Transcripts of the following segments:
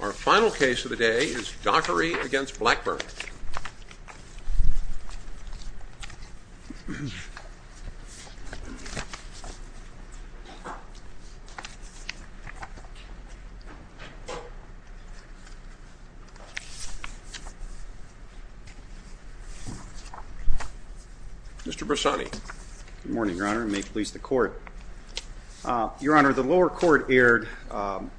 Our final case of the day is Dockery v. Blackburn. Mr. Bressani. Good morning, Your Honor, and may it please the Court. Your Honor, the lower court erred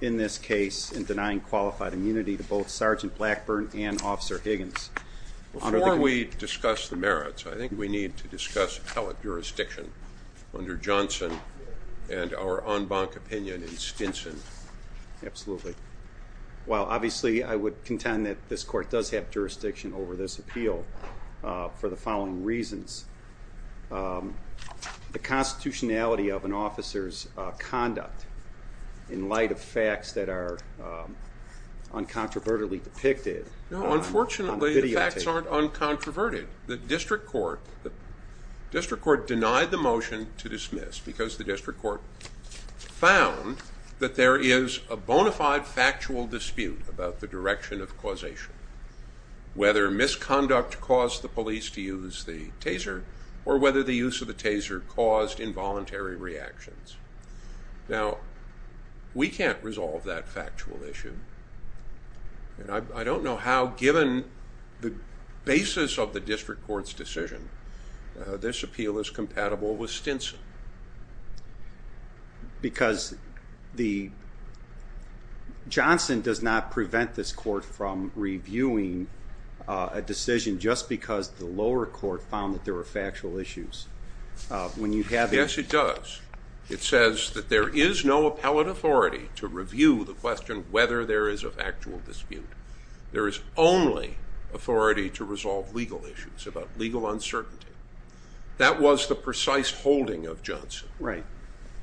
in this case in denying qualified immunity to both Sgt. Blackburn and Officer Higgins. Before we discuss the merits, I think we need to discuss appellate jurisdiction under Johnson and our en banc opinion in Stinson. Absolutely. Well, obviously, I would contend that this court does have jurisdiction over this appeal for the following reasons. The constitutionality of an officer's conduct in light of facts that are uncontrovertedly depicted. Unfortunately, the facts aren't uncontroverted. The district court denied the motion to dismiss because the district court found that there is a bona fide factual dispute about the direction of causation. Whether misconduct caused the police to use the taser or whether the use of the taser caused involuntary reactions. Now, we can't resolve that factual issue. I don't know how, given the basis of the district court's decision, this appeal is compatible with Stinson. Because Johnson does not prevent this court from reviewing a decision just because the lower court found that there were factual issues. Yes, it does. It says that there is no appellate authority to review the question whether there is a factual dispute. There is only authority to resolve legal issues about legal uncertainty. That was the precise holding of Johnson. Right.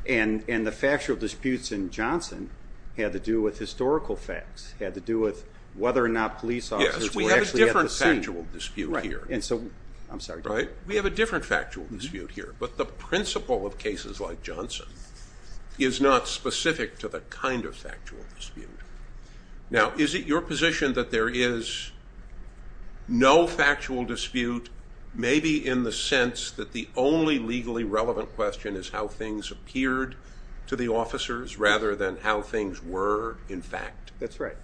And the factual disputes in Johnson had to do with historical facts, had to do with whether or not police officers were actually at the scene. Yes, we have a different factual dispute here. Right. I'm sorry. We have a different factual dispute here. But the principle of cases like Johnson is not specific to the kind of factual dispute. Now, is it your position that there is no factual dispute, maybe in the sense that the only legally relevant question is how things appeared to the officers rather than how things were in fact? That's right.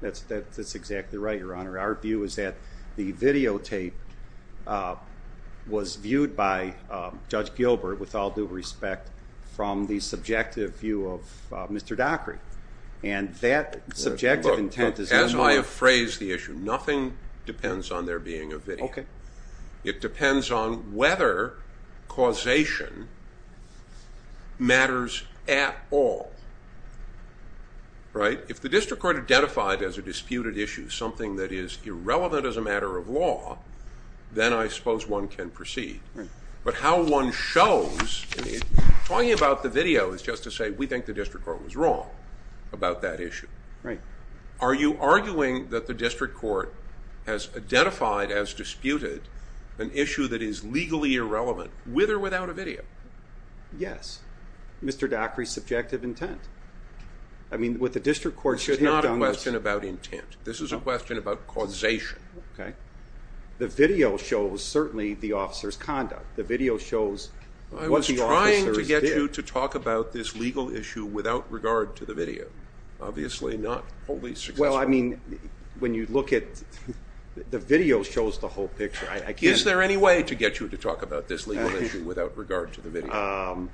That's exactly right, Your Honor. Our view is that the videotape was viewed by Judge Gilbert, with all due respect, from the subjective view of Mr. Dockery. And that subjective intent is not. Look, as I have phrased the issue, nothing depends on there being a video. Okay. It depends on whether causation matters at all. Right? If the district court identified as a disputed issue something that is irrelevant as a matter of law, then I suppose one can proceed. Right. But how one shows, talking about the video is just to say we think the district court was wrong about that issue. Right. Are you arguing that the district court has identified as disputed an issue that is legally irrelevant, with or without a video? Yes. Mr. Dockery's subjective intent. I mean, what the district court should have done was— This is not a question about intent. This is a question about causation. Okay. The video shows, certainly, the officer's conduct. The video shows what the officers did. I was trying to get you to talk about this legal issue without regard to the video. Obviously not wholly successful. Well, I mean, when you look at—the video shows the whole picture. Is there any way to get you to talk about this legal issue without regard to the video?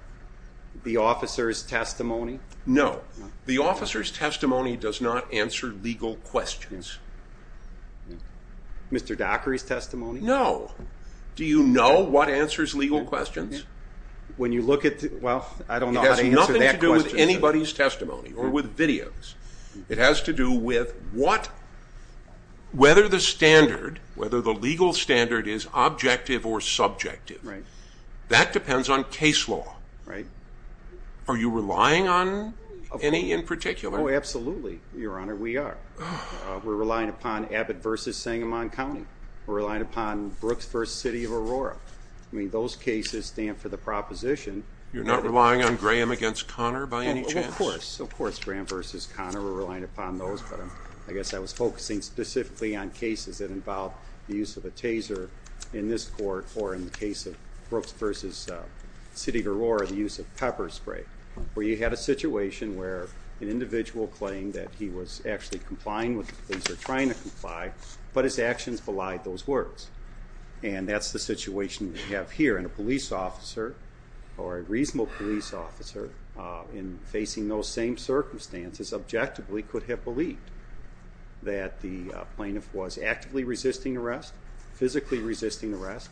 The officer's testimony? No. The officer's testimony does not answer legal questions. Mr. Dockery's testimony? No. Do you know what answers legal questions? When you look at—well, I don't know how to answer that question. It has nothing to do with anybody's testimony or with videos. It has to do with what—whether the standard, whether the legal standard is objective or subjective. Right. That depends on case law. Right. Are you relying on any in particular? Oh, absolutely, Your Honor, we are. We're relying upon Abbott v. Sangamon County. We're relying upon Brooks v. City of Aurora. I mean, those cases stand for the proposition— You're not relying on Graham v. Conner by any chance? Oh, of course. Of course, Graham v. Conner, we're relying upon those. But I guess I was focusing specifically on cases that involve the use of a taser in this court or in the case of Brooks v. City of Aurora, the use of pepper spray, where you had a situation where an individual claimed that he was actually complying with the taser, trying to comply, but his actions belied those words. And that's the situation we have here. And a police officer or a reasonable police officer, in facing those same circumstances, objectively could have believed that the plaintiff was actively resisting arrest, physically resisting arrest,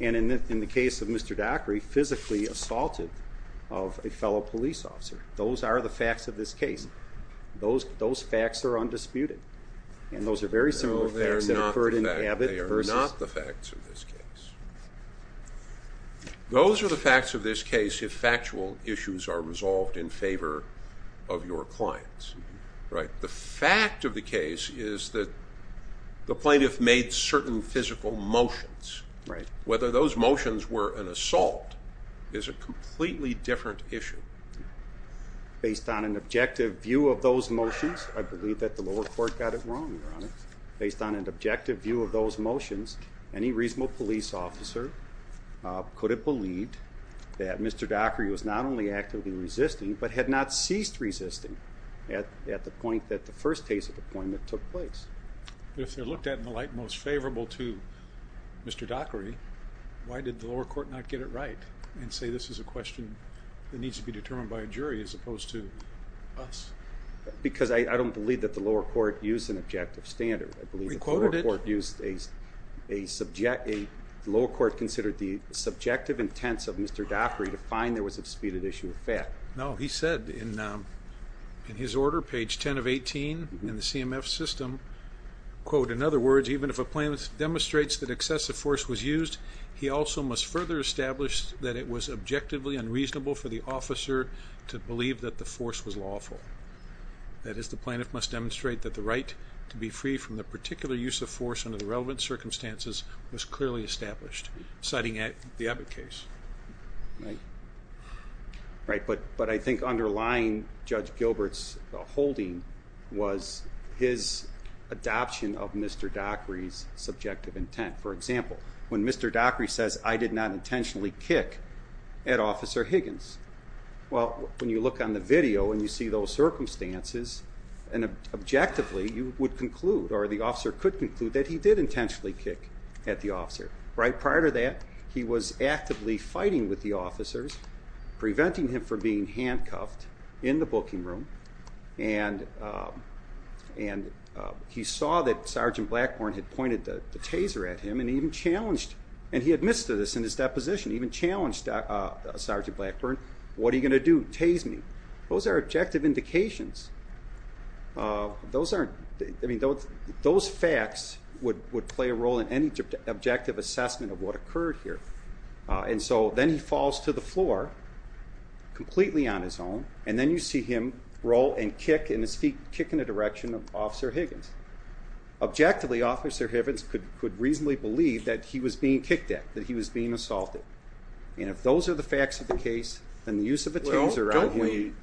and in the case of Mr. Daugherty, physically assaulted a fellow police officer. Those are the facts of this case. Those facts are undisputed. And those are very similar facts that occurred in Abbott v.— They are not the facts of this case. Those are the facts of this case if factual issues are resolved in favor of your clients. The fact of the case is that the plaintiff made certain physical motions. Whether those motions were an assault is a completely different issue. Based on an objective view of those motions, I believe that the lower court got it wrong, Your Honor. Based on an objective view of those motions, any reasonable police officer could have believed that Mr. Daugherty was not only actively resisting but had not ceased resisting at the point that the first case of appointment took place. If they're looked at in the light most favorable to Mr. Daugherty, why did the lower court not get it right and say this is a question that needs to be determined by a jury as opposed to us? Because I don't believe that the lower court used an objective standard. I believe the lower court used a subjective— the lower court considered the subjective intents of Mr. Daugherty to find there was a disputed issue of fact. No, he said in his order, page 10 of 18 in the CMF system, quote, In other words, even if a plaintiff demonstrates that excessive force was used, he also must further establish that it was objectively unreasonable for the officer to believe that the force was lawful. That is, the plaintiff must demonstrate that the right to be free from the particular use of force under the relevant circumstances was clearly established, citing the Abbott case. Right, but I think underlying Judge Gilbert's holding was his adoption of Mr. Daugherty's subjective intent. For example, when Mr. Daugherty says, I did not intentionally kick at Officer Higgins. Well, when you look on the video and you see those circumstances, and objectively you would conclude or the officer could conclude that he did intentionally kick at the officer. Right, prior to that, he was actively fighting with the officers, preventing him from being handcuffed in the booking room, and he saw that Sergeant Blackburn had pointed the taser at him and even challenged, and he admits to this in his deposition, even challenged Sergeant Blackburn, what are you going to do, tase me? Those are objective indications. Those facts would play a role in any objective assessment of what occurred here, and so then he falls to the floor completely on his own, and then you see him roll and kick and his feet kick in the direction of Officer Higgins. Objectively, Officer Higgins could reasonably believe that he was being kicked at, that he was being assaulted, and if those are the facts of the case, Well, don't we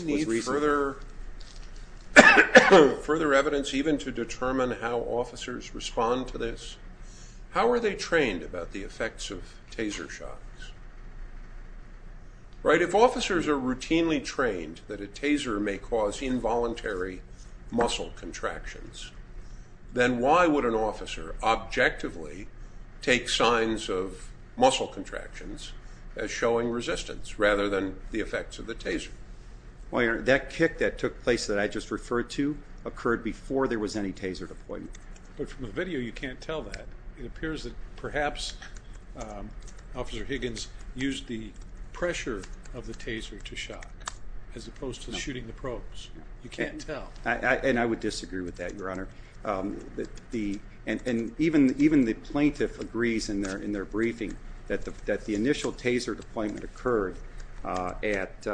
need further evidence even to determine how officers respond to this? How are they trained about the effects of taser shots? If officers are routinely trained that a taser may cause involuntary muscle contractions, then why would an officer objectively take signs of muscle contractions as showing resistance rather than the effects of the taser? Well, that kick that took place that I just referred to occurred before there was any taser deployment. But from the video you can't tell that. It appears that perhaps Officer Higgins used the pressure of the taser to shock as opposed to shooting the probes. You can't tell. And I would disagree with that, Your Honor. And even the plaintiff agrees in their briefing that the initial taser deployment occurred at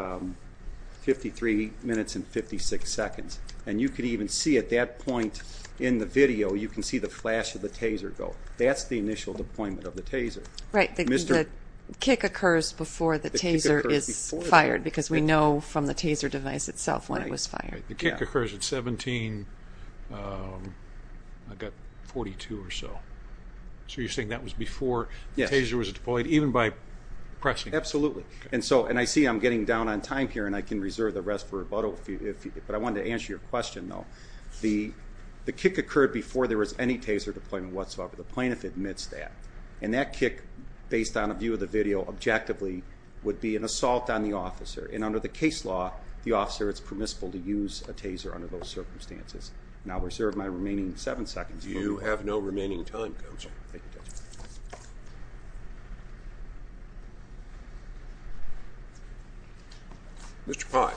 53 minutes and 56 seconds. And you could even see at that point in the video, you can see the flash of the taser go. That's the initial deployment of the taser. Right. The kick occurs before the taser is fired because we know from the taser device itself when it was fired. Okay. The kick occurs at 17, I've got 42 or so. So you're saying that was before the taser was deployed, even by pressing? Absolutely. And I see I'm getting down on time here, and I can reserve the rest for rebuttal. But I wanted to answer your question, though. The kick occurred before there was any taser deployment whatsoever. The plaintiff admits that. And that kick, based on a view of the video, objectively would be an assault on the officer. And under the case law, the officer is permissible to use a taser under those circumstances. And I'll reserve my remaining seven seconds. You have no remaining time, Counsel. Thank you, Judge. Mr. Pye.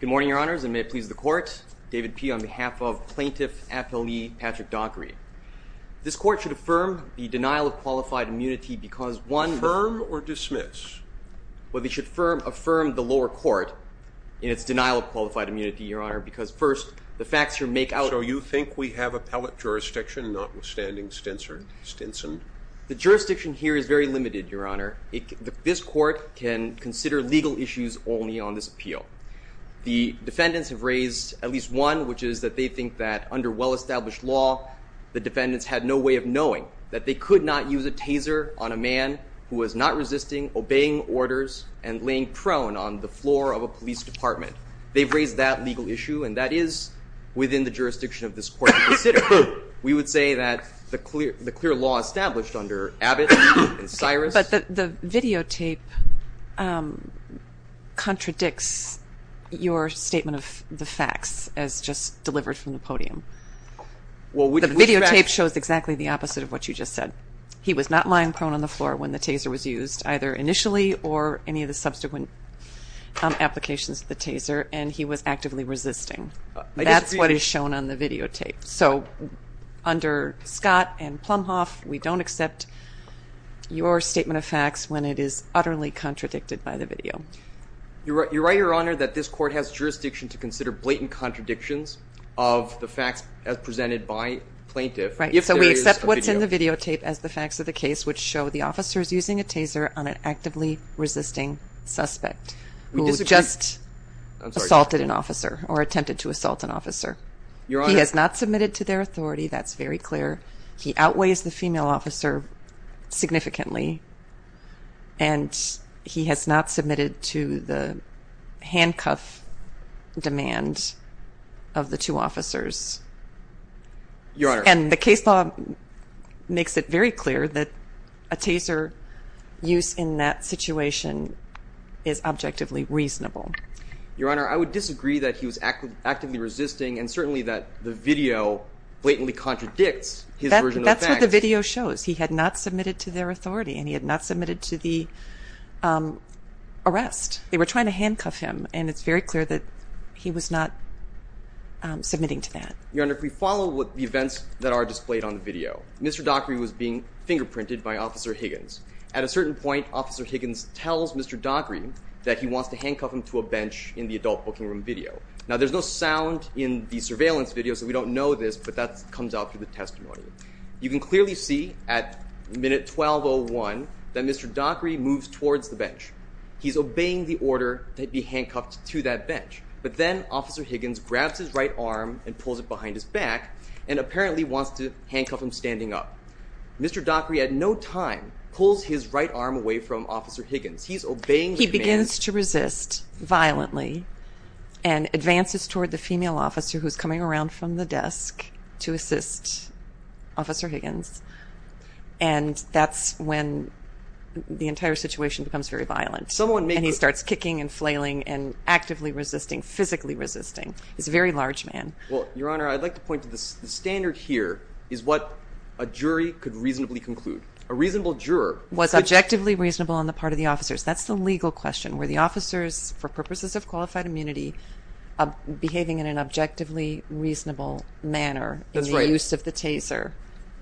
Good morning, Your Honors, and may it please the Court. David P. on behalf of Plaintiff Affiliate Patrick Daugherty. This Court should affirm the denial of qualified immunity because, one, the Affirm or dismiss? Well, they should affirm the lower court in its denial of qualified immunity, Your Honor, because, first, the facts here make out So you think we have appellate jurisdiction, notwithstanding Stinson? The jurisdiction here is very limited, Your Honor. This Court can consider legal issues only on this appeal. The defendants have raised at least one, which is that they think that under well-established law, the defendants had no way of knowing that they could not use a taser on a man who was not resisting, obeying orders, and laying prone on the floor of a police department. They've raised that legal issue, and that is within the jurisdiction of this Court to consider. We would say that the clear law established under Abbott and Cyrus But the videotape contradicts your statement of the facts as just delivered from the podium. The videotape shows exactly the opposite of what you just said. He was not lying prone on the floor when the taser was used, either initially or any of the subsequent applications of the taser, and he was actively resisting. That's what is shown on the videotape. So under Scott and Plumhoff, we don't accept your statement of facts when it is utterly contradicted by the video. You're right, Your Honor, that this Court has jurisdiction to consider blatant contradictions of the facts as presented by plaintiff. So we accept what's in the videotape as the facts of the case, which show the officers using a taser on an actively resisting suspect who just assaulted an officer or attempted to assault an officer. He has not submitted to their authority. That's very clear. He outweighs the female officer significantly, and he has not submitted to the handcuff demand of the two officers. Your Honor. And the case law makes it very clear that a taser use in that situation is objectively reasonable. Your Honor, I would disagree that he was actively resisting, and certainly that the video blatantly contradicts his version of the facts. That's what the video shows. He had not submitted to their authority, and he had not submitted to the arrest. They were trying to handcuff him, and it's very clear that he was not submitting to that. Your Honor, if we follow the events that are displayed on the video, Mr. Dockery was being fingerprinted by Officer Higgins. At a certain point, Officer Higgins tells Mr. Dockery that he wants to handcuff him to a bench in the adult booking room video. Now, there's no sound in the surveillance video, so we don't know this, but that comes out through the testimony. You can clearly see at minute 1201 that Mr. Dockery moves towards the bench. He's obeying the order to be handcuffed to that bench, but then Officer Higgins grabs his right arm and pulls it behind his back and apparently wants to handcuff him standing up. Mr. Dockery at no time pulls his right arm away from Officer Higgins. He's obeying the command. He begins to resist violently and advances toward the female officer who's coming around from the desk to assist Officer Higgins, and that's when the entire situation becomes very violent. And he starts kicking and flailing and actively resisting, physically resisting. He's a very large man. Well, Your Honor, I'd like to point to the standard here is what a jury could reasonably conclude. A reasonable juror... Was objectively reasonable on the part of the officers. That's the legal question. Were the officers, for purposes of qualified immunity, behaving in an objectively reasonable manner in the use of the taser?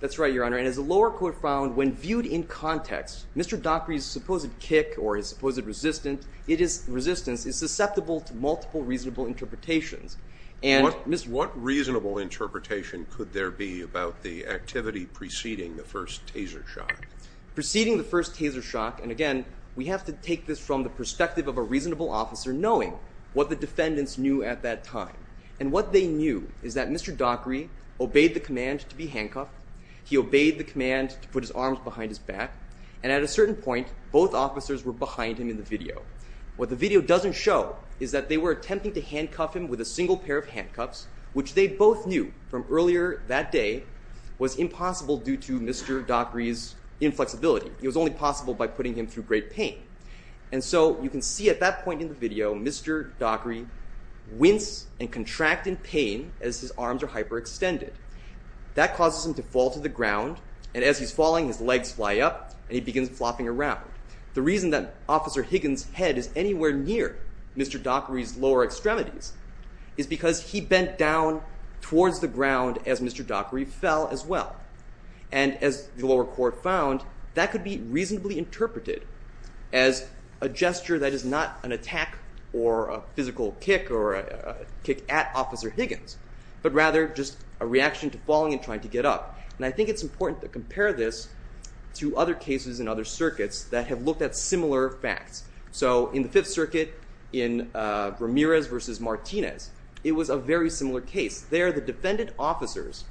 That's right, Your Honor. And as the lower court found, when viewed in context, Mr. Dockery's supposed kick or his supposed resistance is susceptible to multiple reasonable interpretations. What reasonable interpretation could there be about the activity preceding the first taser shock? Preceding the first taser shock, and again, we have to take this from the perspective of a reasonable officer knowing what the defendants knew at that time. And what they knew is that Mr. Dockery obeyed the command to be handcuffed. He obeyed the command to put his arms behind his back, and at a certain point, both officers were behind him in the video. What the video doesn't show is that they were attempting to handcuff him with a single pair of handcuffs, which they both knew from earlier that day was impossible due to Mr. Dockery's inflexibility. It was only possible by putting him through great pain. And so you can see at that point in the video, Mr. Dockery wince and contract in pain as his arms are hyperextended. That causes him to fall to the ground, and as he's falling, his legs fly up, and he begins flopping around. The reason that Officer Higgins' head is anywhere near Mr. Dockery's lower extremities is because he bent down towards the ground as Mr. Dockery fell as well. And as the lower court found, that could be reasonably interpreted as a gesture that is not an attack or a physical kick or a kick at Officer Higgins, but rather just a reaction to falling and trying to get up. And I think it's important to compare this to other cases in other circuits that have looked at similar facts. So in the Fifth Circuit in Ramirez v. Martinez, it was a very similar case. There, the defendant officers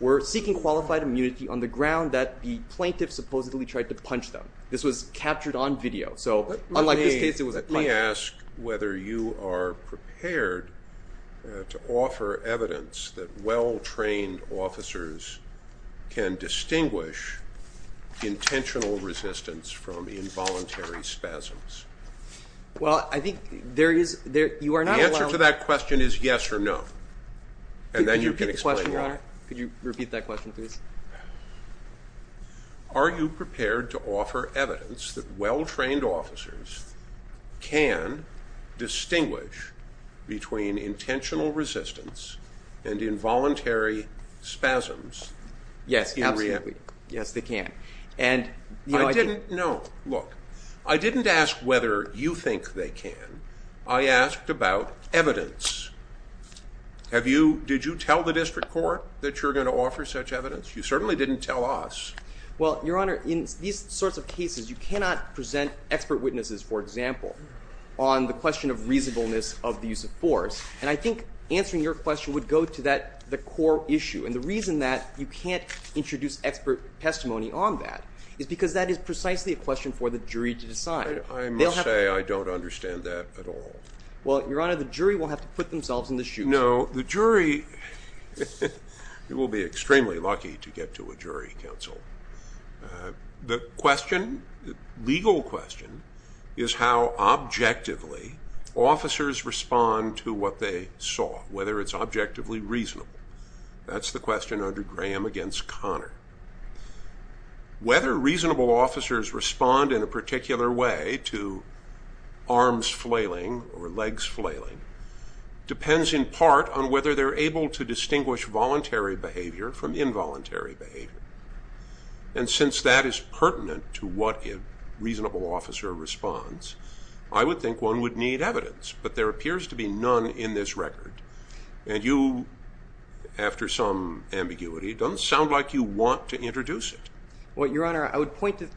were seeking qualified immunity on the ground that the plaintiff supposedly tried to punch them. This was captured on video, so unlike this case, it was a punch. Let me ask whether you are prepared to offer evidence that well-trained officers can distinguish intentional resistance from involuntary spasms. Well, I think there is – you are not allowed – The answer to that question is yes or no, and then you can explain. Could you repeat the question, Your Honor? Could you repeat that question, please? Are you prepared to offer evidence that well-trained officers can distinguish between intentional resistance and involuntary spasms? Yes, absolutely. Yes, they can. No, look, I didn't ask whether you think they can. I asked about evidence. Did you tell the district court that you're going to offer such evidence? You certainly didn't tell us. Well, Your Honor, in these sorts of cases, you cannot present expert witnesses, for example, on the question of reasonableness of the use of force. And I think answering your question would go to the core issue, and the reason that you can't introduce expert testimony on that is because that is precisely a question for the jury to decide. I must say I don't understand that at all. Well, Your Honor, the jury will have to put themselves in the shoes. No, the jury will be extremely lucky to get to a jury counsel. The question, legal question, is how objectively officers respond to what they saw, whether it's objectively reasonable. That's the question under Graham against Connor. Whether reasonable officers respond in a particular way to arms flailing or legs flailing depends in part on whether they're able to distinguish voluntary behavior from involuntary behavior. And since that is pertinent to what a reasonable officer responds, I would think one would need evidence, but there appears to be none in this record. And you, after some ambiguity, don't sound like you want to introduce it. Well, Your Honor, I would point to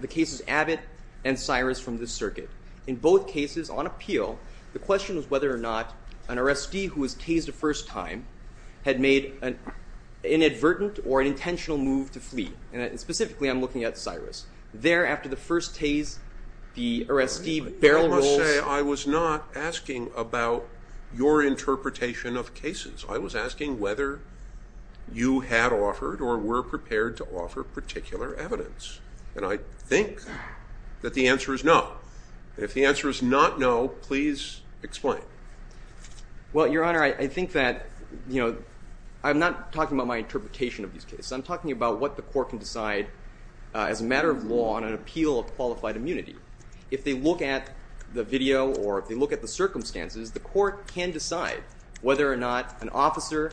the cases Abbott and Cyrus from this circuit. In both cases, on appeal, the question was whether or not an arrestee who was tased a first time had made an inadvertent or an intentional move to flee. And specifically, I'm looking at Cyrus. There, after the first tase, the arrestee barely rolls. I must say, I was not asking about your interpretation of cases. I was asking whether you had offered or were prepared to offer particular evidence. And I think that the answer is no. If the answer is not no, please explain. Well, Your Honor, I think that, you know, I'm not talking about my interpretation of these cases. I'm talking about what the court can decide as a matter of law on an appeal of qualified immunity. If they look at the video or if they look at the circumstances, the court can decide whether or not an officer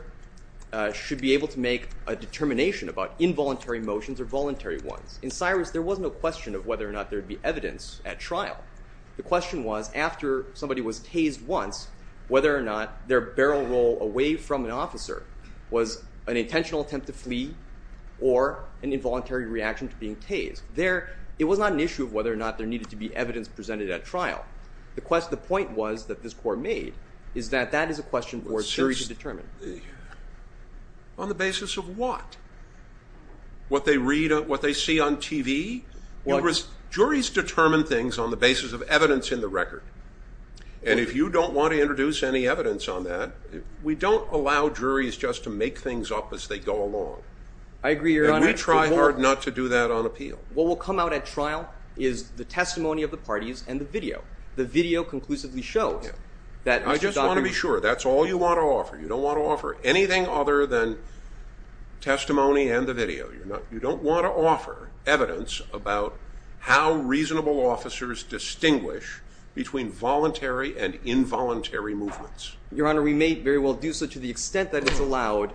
should be able to make a determination about involuntary motions or voluntary ones. In Cyrus, there was no question of whether or not there would be evidence at trial. The question was, after somebody was tased once, whether or not their barrel roll away from an officer was an intentional attempt to flee or an involuntary reaction to being tased. There, it was not an issue of whether or not there needed to be evidence presented at trial. The point was that this court made is that that is a question for a jury to determine. On the basis of what? What they read, what they see on TV? Juries determine things on the basis of evidence in the record. And if you don't want to introduce any evidence on that, we don't allow juries just to make things up as they go along. I agree, Your Honor. And we try hard not to do that on appeal. What will come out at trial is the testimony of the parties and the video. The video conclusively shows that Mr. Donovan… I just want to be sure. That's all you want to offer. You don't want to offer anything other than testimony and the video. You don't want to offer evidence about how reasonable officers distinguish between voluntary and involuntary movements. Your Honor, we may very well do so to the extent that it's allowed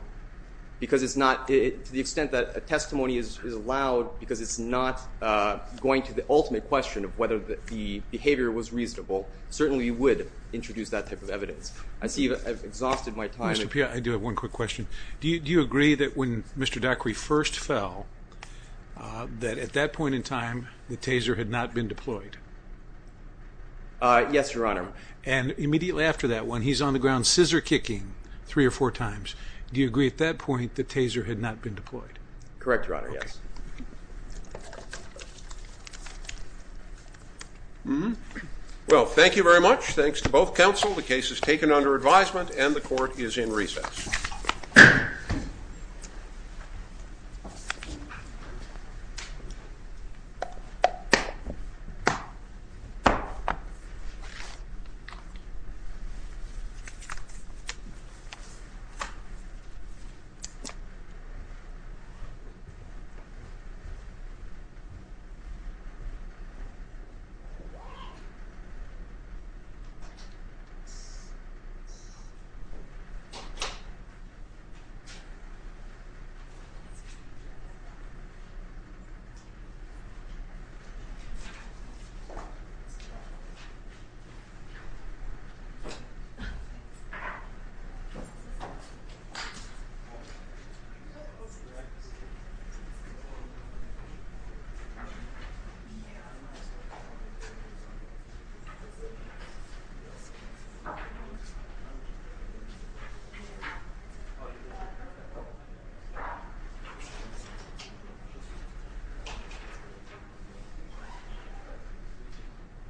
because it's not… to the extent that a testimony is allowed because it's not going to the ultimate question of whether the behavior was reasonable. Certainly, you would introduce that type of evidence. I see I've exhausted my time. Mr. Pia, I do have one quick question. Do you agree that when Mr. Daquiri first fell, that at that point in time, the taser had not been deployed? Yes, Your Honor. And immediately after that, when he's on the ground scissor-kicking three or four times, do you agree at that point the taser had not been deployed? Correct, Your Honor. Yes. Well, thank you very much. Thanks to both counsel. The case is taken under advisement and the court is in recess. Thank you. Thank you. Thank you.